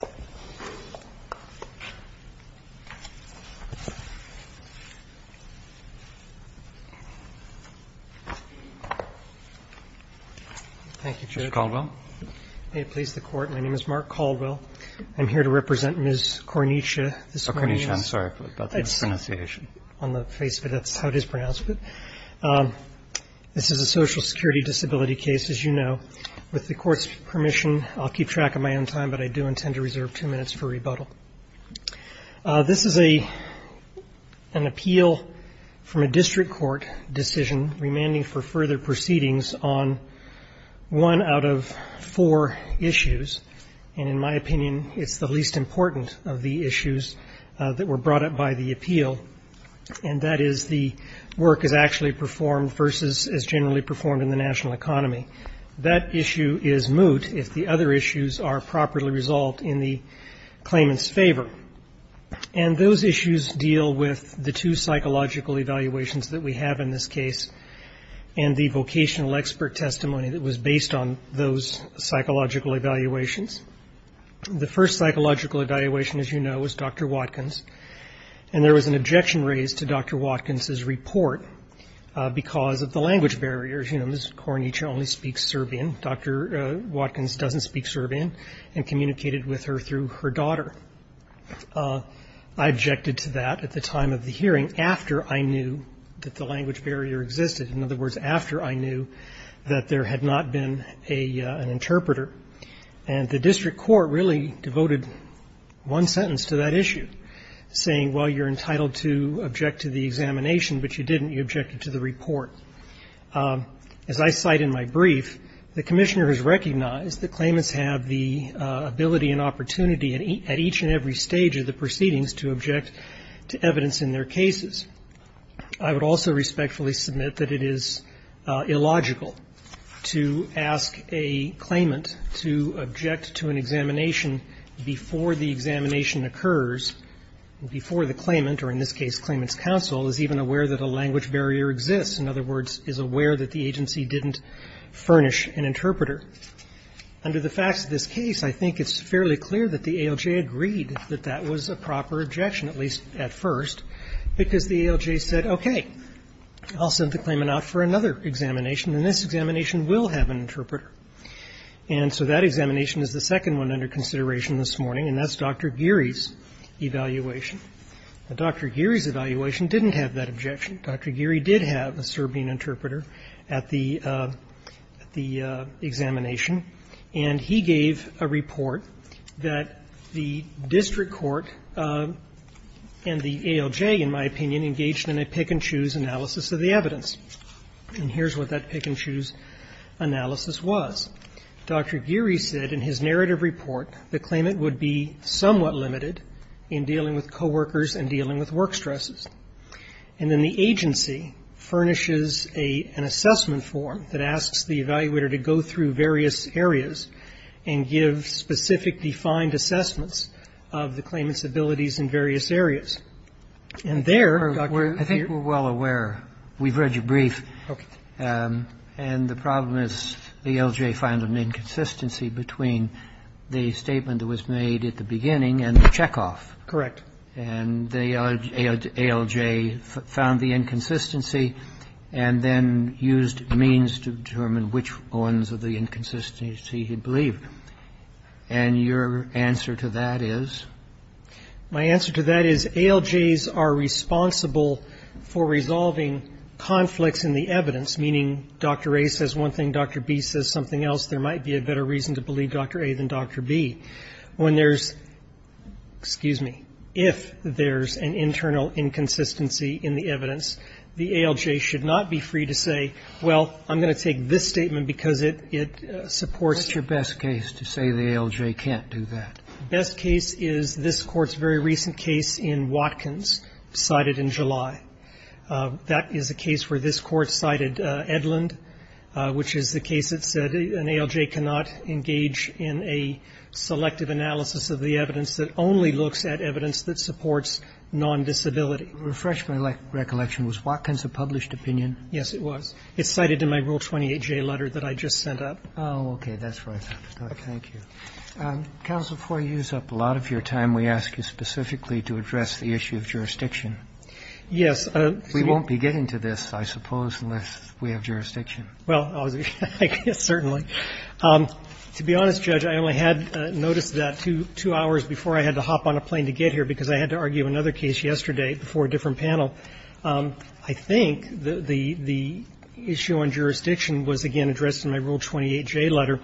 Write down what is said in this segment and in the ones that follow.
Mark Caldwell This is a Social Security disability case. With the Court's permission, I will keep reserve two minutes for rebuttal. This is an appeal from a district court decision remanding for further proceedings on one out of four issues, and in my opinion, it's the least important of the issues that were brought up by the appeal, and that is the work is actually performed versus as generally performed in the national economy. That issue is moot if the other issues are properly resolved in the claimant's favor, and those issues deal with the two psychological evaluations that we have in this case and the vocational expert testimony that was based on those psychological evaluations. The first psychological evaluation, as you know, was Dr. Watkins, and there was an objection raised to Dr. Watkins's report because of the language barriers. You know, Ms. Kornicza only speaks Serbian. Dr. Watkins doesn't speak Serbian, and communicated with her through her daughter. I objected to that at the time of the hearing after I knew that the language barrier existed, in other words, after I knew that there had not been an interpreter. And the district court really devoted one sentence to that issue, saying, well, you're entitled to object to the examination, but you didn't. You objected to the report. As I cite in my brief, the commissioner has recognized that claimants have the ability and opportunity at each and every stage of the proceedings to object to evidence in their cases. I would also respectfully submit that it is illogical to ask a claimant to object to an examination before the examination occurs, before the claimant, or in this case claimant's counsel is even aware that a language barrier exists, in other words, is aware that the agency didn't furnish an interpreter. Under the facts of this case, I think it's fairly clear that the ALJ agreed that that was a proper objection, at least at first, because the ALJ said, okay, I'll send the claimant out for another examination, and this examination will have an interpreter. And so that examination is the second one under consideration this morning, and that's Dr. Geary's evaluation. Dr. Geary's evaluation didn't have that objection. Dr. Geary did have a Serbian interpreter at the examination, and he gave a report that the district court and the ALJ, in my opinion, engaged in a pick-and-choose analysis of the evidence. And here's what that pick-and-choose analysis was. Dr. Geary said in his narrative report the claimant would be somewhat limited in dealing with coworkers and dealing with work stresses. And then the agency furnishes an assessment form that asks the evaluator to go through various areas and give specific defined assessments of the claimant's abilities in various areas. And there, Dr. Geary was the one who said that the ALJ was not aware that the ALJ found an inconsistency between the statement that was made at the beginning and the checkoff. Correct. And the ALJ found the inconsistency and then used means to determine which ones of the inconsistency he believed. And your answer to that is? My answer to that is ALJs are responsible for resolving conflicts in the evidence, meaning Dr. A says one thing, Dr. B says something else. There might be a better reason to believe Dr. A than Dr. B. When there's ‑‑ excuse me. If there's an internal inconsistency in the evidence, the ALJ should not be free to say, well, I'm going to take this statement because it supports ‑‑ What's your best case to say the ALJ can't do that? The best case is this Court's very recent case in Watkins, cited in July. That is a case where this Court cited Edlund, which is the case that said an ALJ cannot engage in a selective analysis of the evidence that only looks at evidence that supports non‑disability. Refresh my recollection. Was Watkins a published opinion? Yes, it was. It's cited in my Rule 28J letter that I just sent up. Oh, okay. That's right. Thank you. Counsel, before you use up a lot of your time, we ask you specifically to address the issue of jurisdiction. Yes. We won't be getting to this, I suppose, unless we have jurisdiction. Well, I guess certainly. To be honest, Judge, I only had notice of that two hours before I had to hop on a plane to get here because I had to argue another case yesterday before a different panel. I think the issue on jurisdiction was, again, addressed in my Rule 28J letter,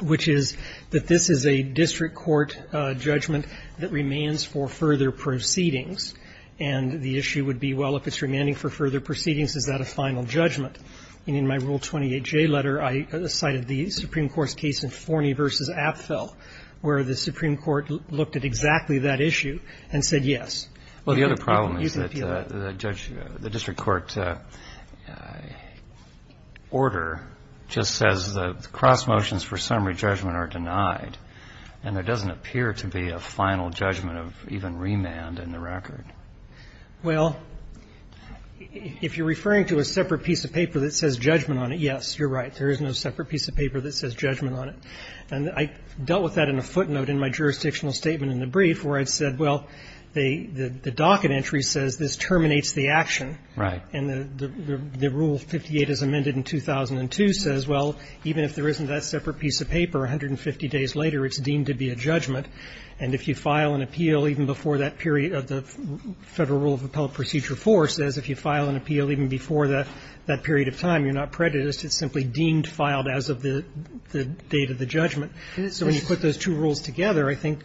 which is that this is a district court judgment that remains for further proceedings. And the issue would be, well, if it's remaining for further proceedings, is that a final judgment? And in my Rule 28J letter, I cited the Supreme Court's case in Forney v. Apfel, where the Supreme Court looked at exactly that issue and said yes. Well, the other problem is that the district court order just says the cross motions for summary judgment are denied, and there doesn't appear to be a final judgment of even remand in the record. Well, if you're referring to a separate piece of paper that says judgment on it, yes, you're right. There is no separate piece of paper that says judgment on it. And I dealt with that in a footnote in my jurisdictional statement in the brief, where I said, well, the docket entry says this terminates the action. Right. And the Rule 58, as amended in 2002, says, well, even if there isn't that separate piece of paper, 150 days later, it's deemed to be a judgment. And if you file an appeal even before that period of the Federal Rule of Appellate Procedure 4, it says if you file an appeal even before that period of time, you're not prejudiced. It's simply deemed filed as of the date of the judgment. So when you put those two rules together, I think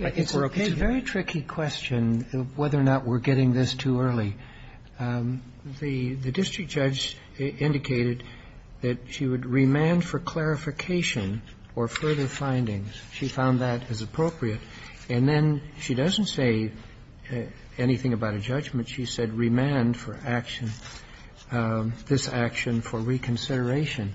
we're okay. Roberts. It's a very tricky question of whether or not we're getting this too early. The district judge indicated that she would remand for clarification or further findings. She found that as appropriate. And then she doesn't say anything about a judgment. She said remand for action, this action for reconsideration.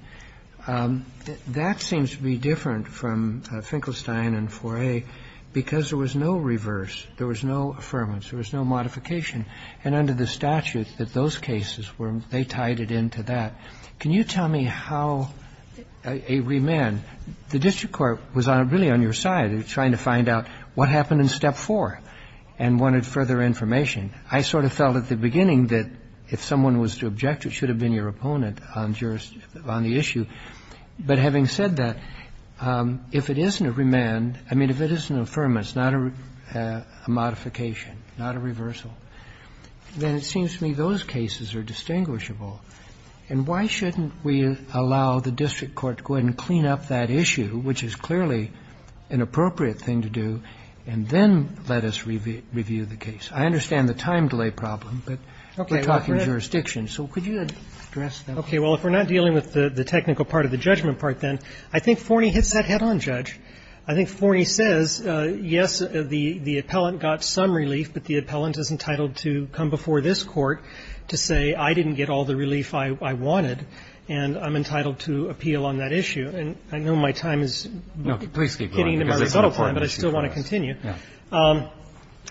That seems to be different from Finkelstein and 4A because there was no reverse, there was no affirmance, there was no modification. And under the statute that those cases were, they tied it into that. Can you tell me how a remand? The district court was really on your side. It was trying to find out what happened in Step 4 and wanted further information. I sort of felt at the beginning that if someone was to object, it should have been your opponent on the issue. But having said that, if it isn't a remand, I mean, if it is an affirmance, not a modification, not a reversal, then it seems to me those cases are distinguishable. And why shouldn't we allow the district court to go ahead and clean up that issue, which is clearly an appropriate thing to do, and then let us review the case? I understand the time delay problem, but we're talking jurisdiction. So could you address that? Okay. Well, if we're not dealing with the technical part of the judgment part then, I think Forney hits that head-on, Judge. I think Forney says, yes, the appellant got some relief, but the appellant is entitled to come before this Court to say, I didn't get all the relief I wanted, and I'm entitled to appeal on that issue. And I know my time is getting to my rebuttal time, but I still want to continue.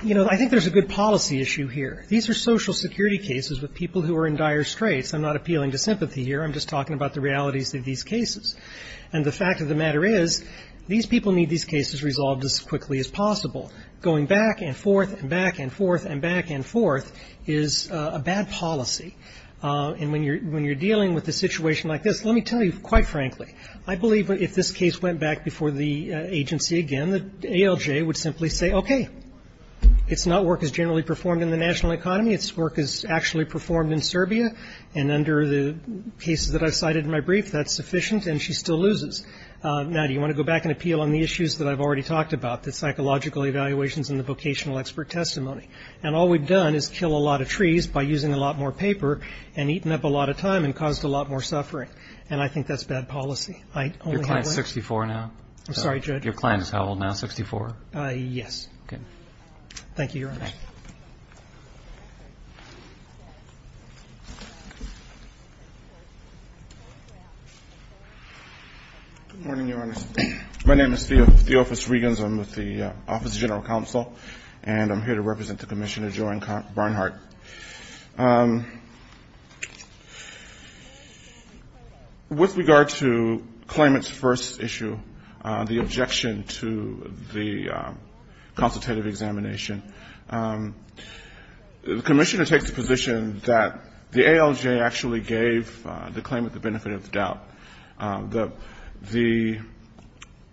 You know, I think there's a good policy issue here. These are Social Security cases with people who are in dire straits. I'm not appealing to sympathy here. I'm just talking about the realities of these cases. And the fact of the matter is, these people need these cases resolved as quickly as possible. Going back and forth and back and forth and back and forth is a bad policy. And when you're dealing with a situation like this, let me tell you, quite frankly, I believe if this case went back before the agency again, the ALJ would simply say, okay, it's not work as generally performed in the national economy. It's work as actually performed in Serbia. And under the cases that I cited in my brief, that's sufficient, and she still loses. Now, do you want to go back and appeal on the issues that I've already talked about, the psychological evaluations and the vocational expert testimony? And all we've done is kill a lot of trees by using a lot more paper, and eaten up a lot of time, and caused a lot more suffering. And I think that's bad policy. I only have one- Your client's 64 now? I'm sorry, Judge. Your client is how old now, 64? Yes. Okay. Thank you, Your Honor. Okay. Good morning, Your Honor. My name is Theophis Regans. I'm with the Office of General Counsel, and I'm here to represent the Commissioner, Joanne Barnhart. With regard to claimant's first issue, the objection to the consultative examination, the Commissioner takes the position that the ALJ actually gave the claimant the benefit of the doubt. The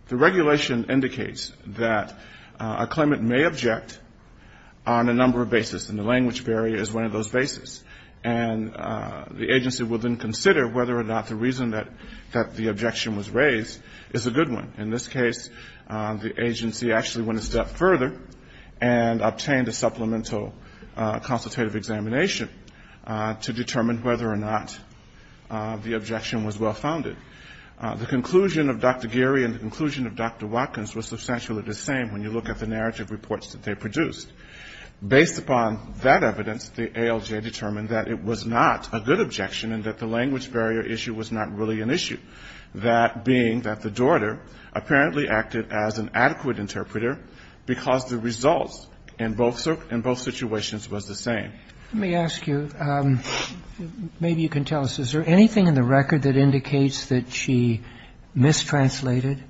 regulation indicates that a claimant may object on a number of bases, and the language barrier is one of those bases. And the agency will then consider whether or not the reason that the objection was raised is a good one. In this case, the agency actually went a step further and obtained a supplemental consultative examination to determine whether or not the objection was well-founded. The conclusion of Dr. Geary and the conclusion of Dr. Watkins was substantially the same when you look at the narrative reports that they produced. Based upon that evidence, the ALJ determined that it was not a good objection and that the language barrier issue was not really an issue, that being that the daughter apparently acted as an adequate interpreter because the results in both situations was the same. Let me ask you, maybe you can tell us, is there anything in the record that indicates that she mistranslated?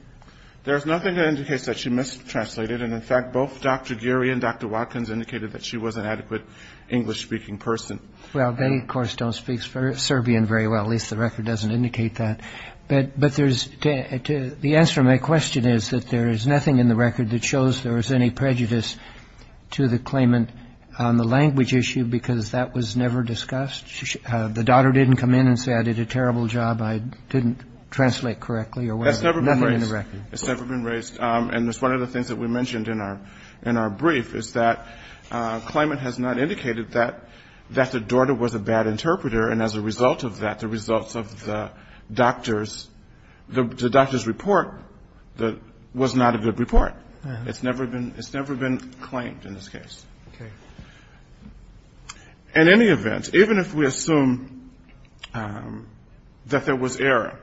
There's nothing that indicates that she mistranslated. And in fact, both Dr. Geary and Dr. Watkins indicated that she was an adequate English-speaking person. Well, they, of course, don't speak Serbian very well. At least the record doesn't indicate that. But there's, the answer to my question is that there is nothing in the record that indicates that she mistranslated to the claimant on the language issue because that was never discussed. The daughter didn't come in and say, I did a terrible job. I didn't translate correctly or whatever. Nothing in the record. That's never been raised. It's never been raised. And that's one of the things that we mentioned in our brief is that a claimant has not indicated that the daughter was a bad interpreter. And as a result of that, the results of the doctor's report was not a good report. It's never been claimed in this case. In any event, even if we assume that there was error,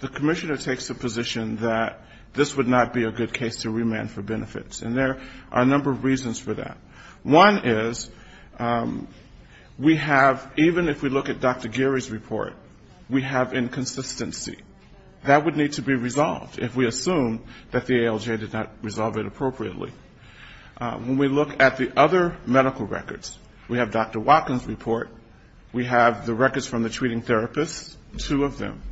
the commissioner takes the position that this would not be a good case to remand for benefits. And there are a number of reasons for that. One is we have, even if we look at Dr. Geary's report, we have inconsistency. That would need to be resolved if we assume that the ALJ did not resolve it appropriately. When we look at the other medical records, we have Dr. Watkins' report. We have the records from the treating therapists, two of them.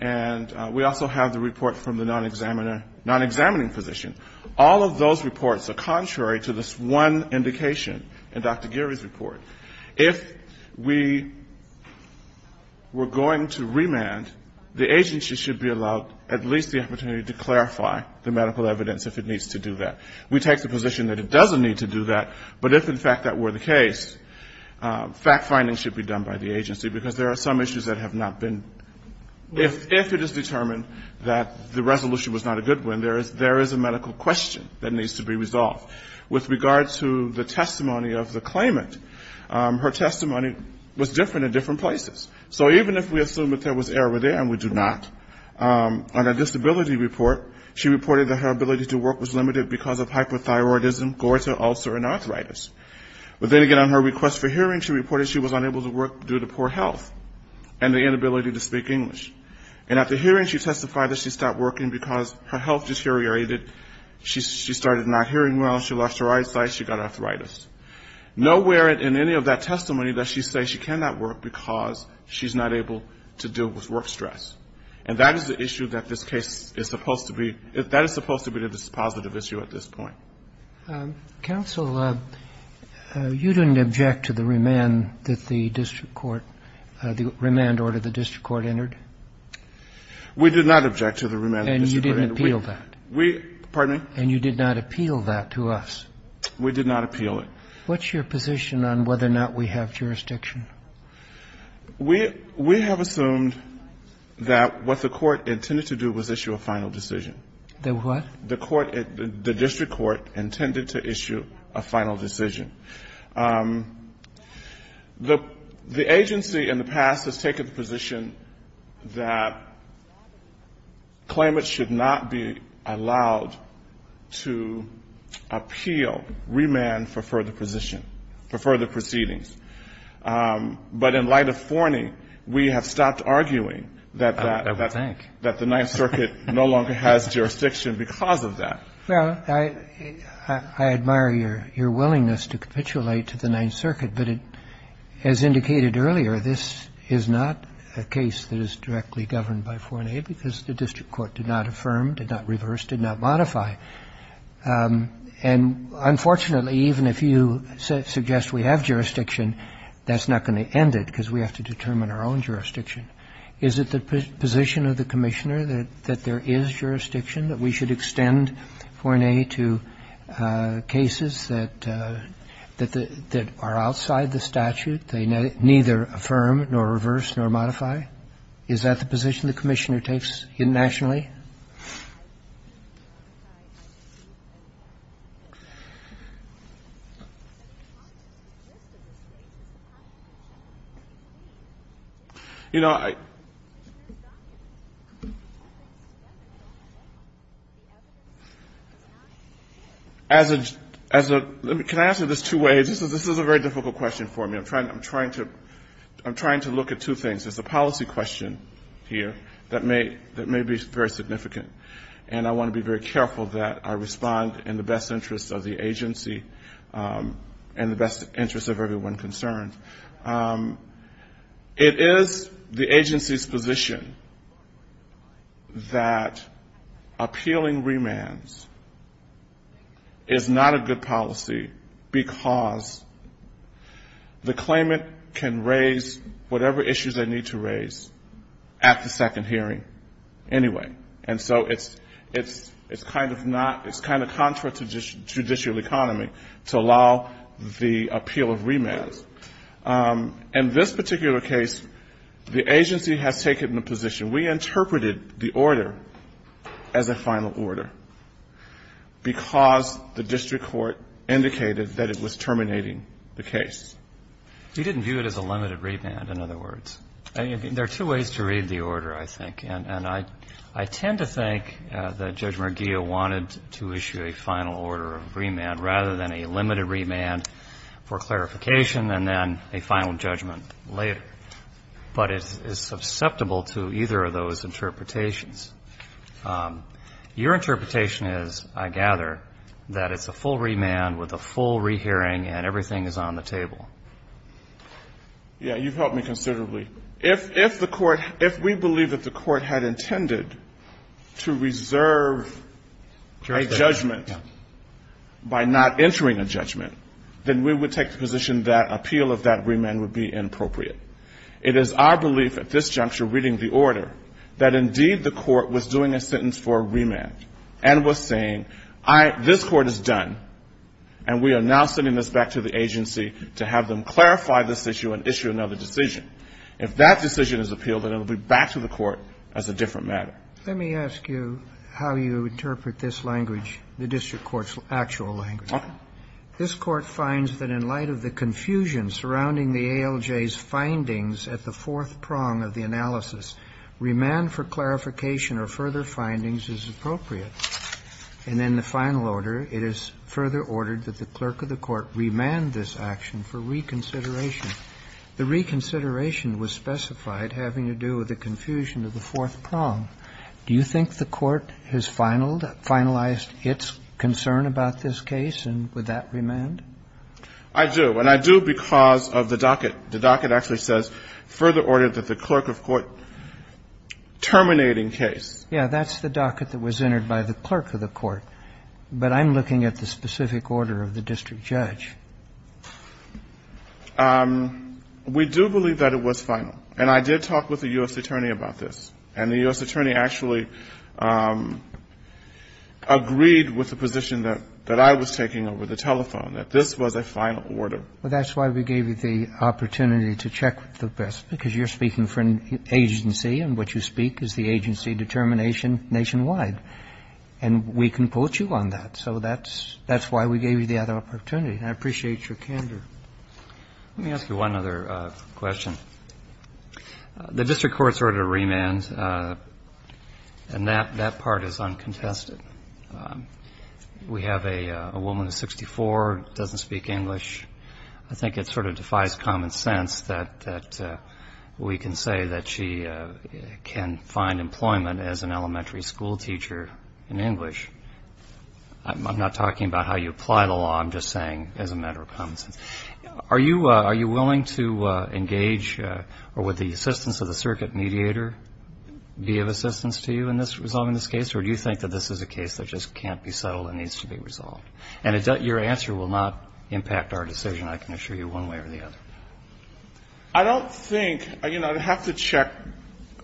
And we also have the report from the non-examining physician. All of those reports are contrary to this one indication in Dr. Geary's report. If we were going to remand, the agency should be allowed at least the opportunity to clarify the medical evidence if it needs to do that. We take the position that it doesn't need to do that. But if, in fact, that were the case, fact-finding should be done by the agency because there are some issues that have not been. If it is determined that the resolution was not a good one, there is a medical question that needs to be resolved. With regard to the testimony of the claimant, her testimony was different in different places. So even if we assume that there was error there, and we do not, on her disability report, she reported that her ability to work was limited because of hyperthyroidism, gorta, ulcer, and arthritis. But then again, on her request for hearing, she reported she was unable to work due to poor health and the inability to speak English. And at the hearing, she testified that she stopped working because her health problems, she lost her eyesight, she got arthritis. Nowhere in any of that testimony does she say she cannot work because she's not able to deal with work stress. And that is the issue that this case is supposed to be, that is supposed to be the dispositive issue at this point. Counsel, you didn't object to the remand that the district court, the remand order the district court entered? We did not object to the remand. And you didn't appeal that? We, pardon me? And you did not appeal that to us? We did not appeal it. What's your position on whether or not we have jurisdiction? We have assumed that what the court intended to do was issue a final decision. The what? The court, the district court, intended to issue a final decision. The agency in the past has taken the position that claimants should not be allowed to appeal remand for further position, for further proceedings. But in light of Forney, we have stopped arguing that that the Ninth Circuit no longer has jurisdiction because of that. Well, I admire your willingness to capitulate to the Ninth Circuit. But as indicated earlier, this is not a case that is directly governed by Forney because the district court did not affirm, did not reverse, did not modify. And unfortunately, even if you suggest we have jurisdiction, that's not going to end it because we have to determine our own jurisdiction. Is it the position of the Commissioner that there is jurisdiction, that we should extend Forney to cases that are outside the statute? They neither affirm, nor reverse, nor modify. Is that the position the Commissioner takes nationally? You know, I don't think that's the case. As a, let me, can I answer this two ways? This is a very difficult question for me. I'm trying to look at two things. There's a policy question here that may be very significant. And I want to be very careful that I respond in the best interest of the agency and the best interest of everyone concerned. It is the agency's position that appealing remands is not a good policy because the claimant can raise whatever issues they need to raise at the second hearing anyway. And so it's kind of not, it's kind of contrary to judicial economy to allow the appeal of remands. In this particular case, the agency has taken the position, we interpreted the order as a final order because the district court indicated that it was terminating the case. You didn't view it as a limited remand, in other words. There are two ways to read the order, I think. And I tend to think that Judge Murgillo wanted to issue a final order of remand rather than a limited remand for clarification and then a final judgment later. But it's susceptible to either of those interpretations. Your interpretation is, I gather, that it's a full remand with a full rehearing and everything is on the table. Yeah, you've helped me considerably. If we believe that the court had intended to reserve a judgment by not entering a judgment, then we would take the position that appeal of that remand would be a full remand. If the court was doing a sentence for a remand and was saying, all right, this court is done and we are now sending this back to the agency to have them clarify this issue and issue another decision, if that decision is appealed, then it will be back to the court as a different matter. Let me ask you how you interpret this language, the district court's actual language. This Court finds that in light of the confusion surrounding the ALJ's findings at the fourth prong of the analysis, remand for clarification or further findings is appropriate. And in the final order, it is further ordered that the clerk of the court remand this action for reconsideration. The reconsideration was specified having to do with the confusion of the fourth prong. Do you think the court has finalized its concern about this case and would that remand? I do. And I do because of the docket. The docket actually says further ordered that the clerk of court terminate in case. Yes. That's the docket that was entered by the clerk of the court. But I'm looking at the specific order of the district judge. We do believe that it was final. And I did talk with the U.S. Attorney about this. And the U.S. Attorney actually agreed with the position that I was taking over the telephone, that this was a final order. Well, that's why we gave you the opportunity to check with the best, because you're speaking for an agency and what you speak is the agency determination nationwide. And we can quote you on that. So that's why we gave you the opportunity. And I appreciate your candor. Let me ask you one other question. The district court's ordered a remand. And that part is uncontested. We have a woman who's 64, doesn't speak English. I think it sort of defies common sense that we can say that she can find employment as an elementary school teacher in English. I'm not talking about how you apply the law. I'm just saying as a matter of common sense. Are you willing to engage or would the assistance of the circuit mediator be of assistance to you in resolving this case? Or do you think that this is a case that just can't be settled and needs to be resolved? And your answer will not impact our decision, I can assure you, one way or the other. I don't think, you know, I'd have to check.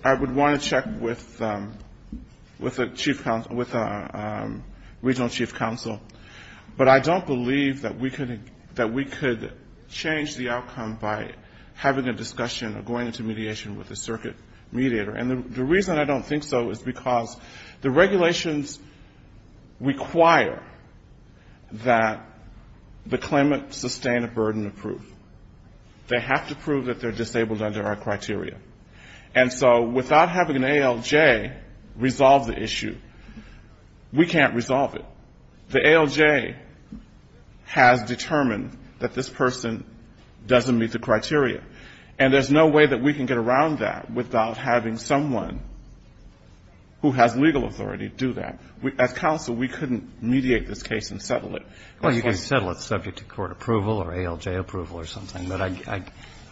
I would want to check with a regional chief counsel. But I don't believe that we could change the outcome by having a discussion or going into mediation with the circuit mediator. And the reason I don't think so is because the regulations require that the claimant sustain a burden of proof. They have to prove that they're disabled under our criteria. And so without having an ALJ resolve the issue, we can't resolve it. The ALJ has determined that this person doesn't meet the criteria. And there's no way that we can get around that without having someone who has legal authority do that. As counsel, we couldn't mediate this case and settle it. Well, you can settle it subject to court approval or ALJ approval or something. But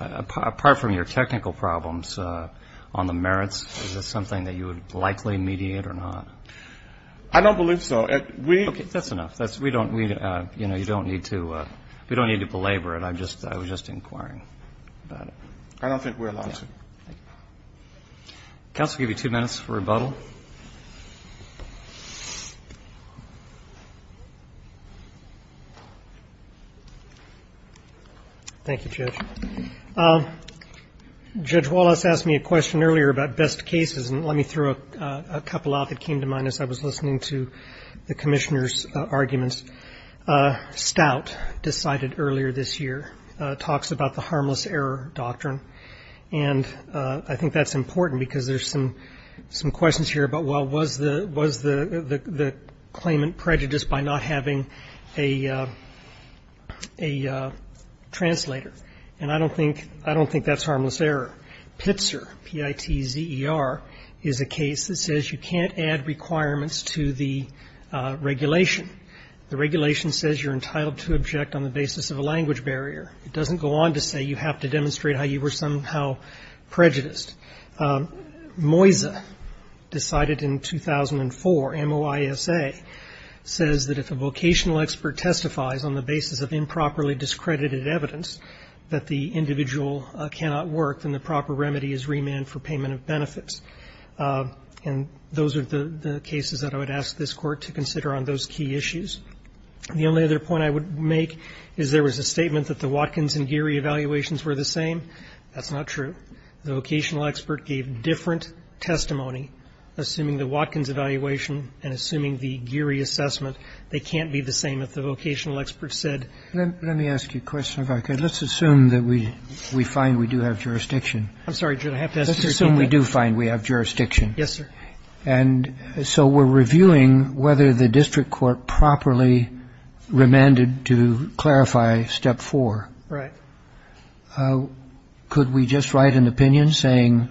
apart from your technical problems on the merits, is this something that you would likely mediate or not? I don't believe so. That's enough. We don't need to belabor it. I was just inquiring about it. I don't think we're allowed to. Counsel, I'll give you two minutes for rebuttal. Thank you, Judge. Judge Wallace asked me a question earlier about best cases, and let me throw a couple out that came to mind as I was listening to the Commissioner's arguments. Stout decided earlier this year, talks about the harmless error doctrine. And I think that's important because there's some questions here about, well, was the claimant prejudiced by not having a translator? And I don't think that's harmless error. PITZER, P-I-T-Z-E-R, is a case that says you can't add requirements to the regulation. The regulation says you're entitled to object on the basis of a language barrier. It doesn't go on to say you have to demonstrate how you were somehow prejudiced. MOISA decided in 2004, M-O-I-S-A, says that if a vocational expert testifies on the basis of improperly discredited evidence that the individual cannot work, then the proper remedy is remand for payment of benefits. And those are the cases that I would ask this Court to consider on those key issues. The only other point I would make is there was a statement that the Watkins and Geary evaluations were the same. That's not true. The vocational expert gave different testimony, assuming the Watkins evaluation and assuming the Geary assessment. They can't be the same if the vocational expert said ---- Let me ask you a question, if I could. Let's assume that we find we do have jurisdiction. I'm sorry, Judge, I have to ask you again. Let's assume we do find we have jurisdiction. Yes, sir. And so we're reviewing whether the district court properly remanded to clarify Step 4. Right. Could we just write an opinion saying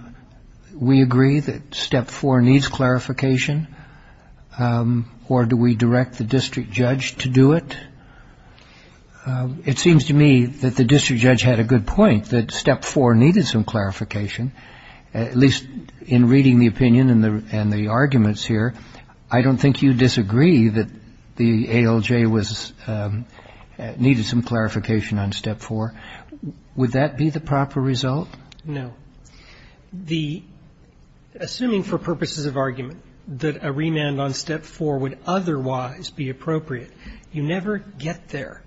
we agree that Step 4 needs clarification, or do we direct the district judge to do it? It seems to me that the district judge had a good point, that Step 4 needed some clarification, at least in reading the opinion and the arguments here. I don't think you'd disagree that the ALJ was ---- needed some clarification on Step 4. Would that be the proper result? No. The ---- assuming for purposes of argument that a remand on Step 4 would otherwise be appropriate, you never get there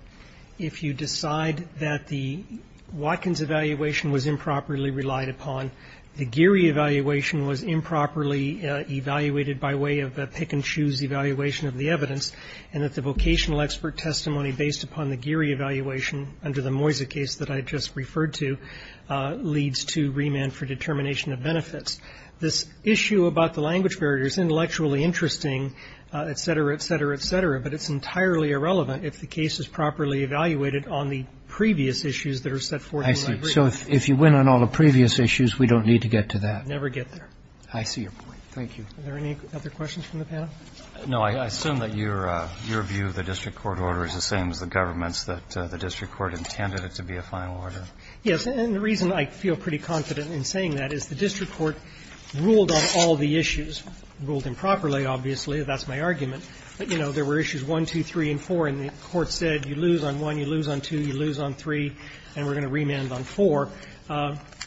if you decide that the Watkins evaluation was improperly relied upon, the Geary evaluation was improperly evaluated by way of a pick-and-choose evaluation of the evidence, and that the vocational expert testimony based upon the Geary evaluation under the Moyza case that I just referred to leads to remand for determination of benefits. This issue about the language barrier is intellectually interesting, et cetera, et cetera, et cetera, but it's entirely irrelevant if the case is properly evaluated on the previous issues that are set forth in my brief. I see. So if you went on all the previous issues, we don't need to get to that. Never get there. I see your point. Thank you. Are there any other questions from the panel? No. I assume that your view of the district court order is the same as the government's, that the district court intended it to be a final order. Yes. And the reason I feel pretty confident in saying that is the district court ruled on all the issues. Ruled improperly, obviously. That's my argument. But, you know, there were issues 1, 2, 3, and 4, and the Court said you lose on 1, you lose on 2, you lose on 3, and we're going to remand on 4.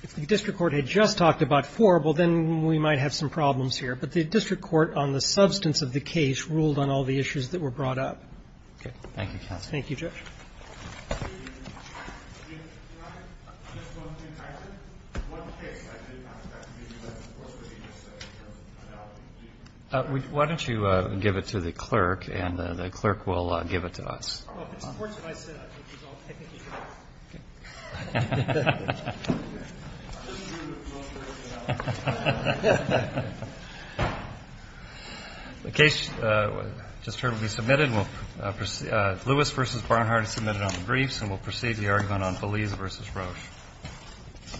If the district court had just talked about 4, well, then we might have some problems here, but the district court on the substance of the case ruled on all the issues that were brought up. Okay. Thank you, counsel. Thank you, Judge. Why don't you give it to the clerk, and the clerk will give it to us. Well, if it supports what I said, I'll take it. Okay. The case just heard will be submitted. We'll proceed. Lewis v. Barnhart is submitted on the briefs, and we'll proceed to the argument on Belize v. Roche.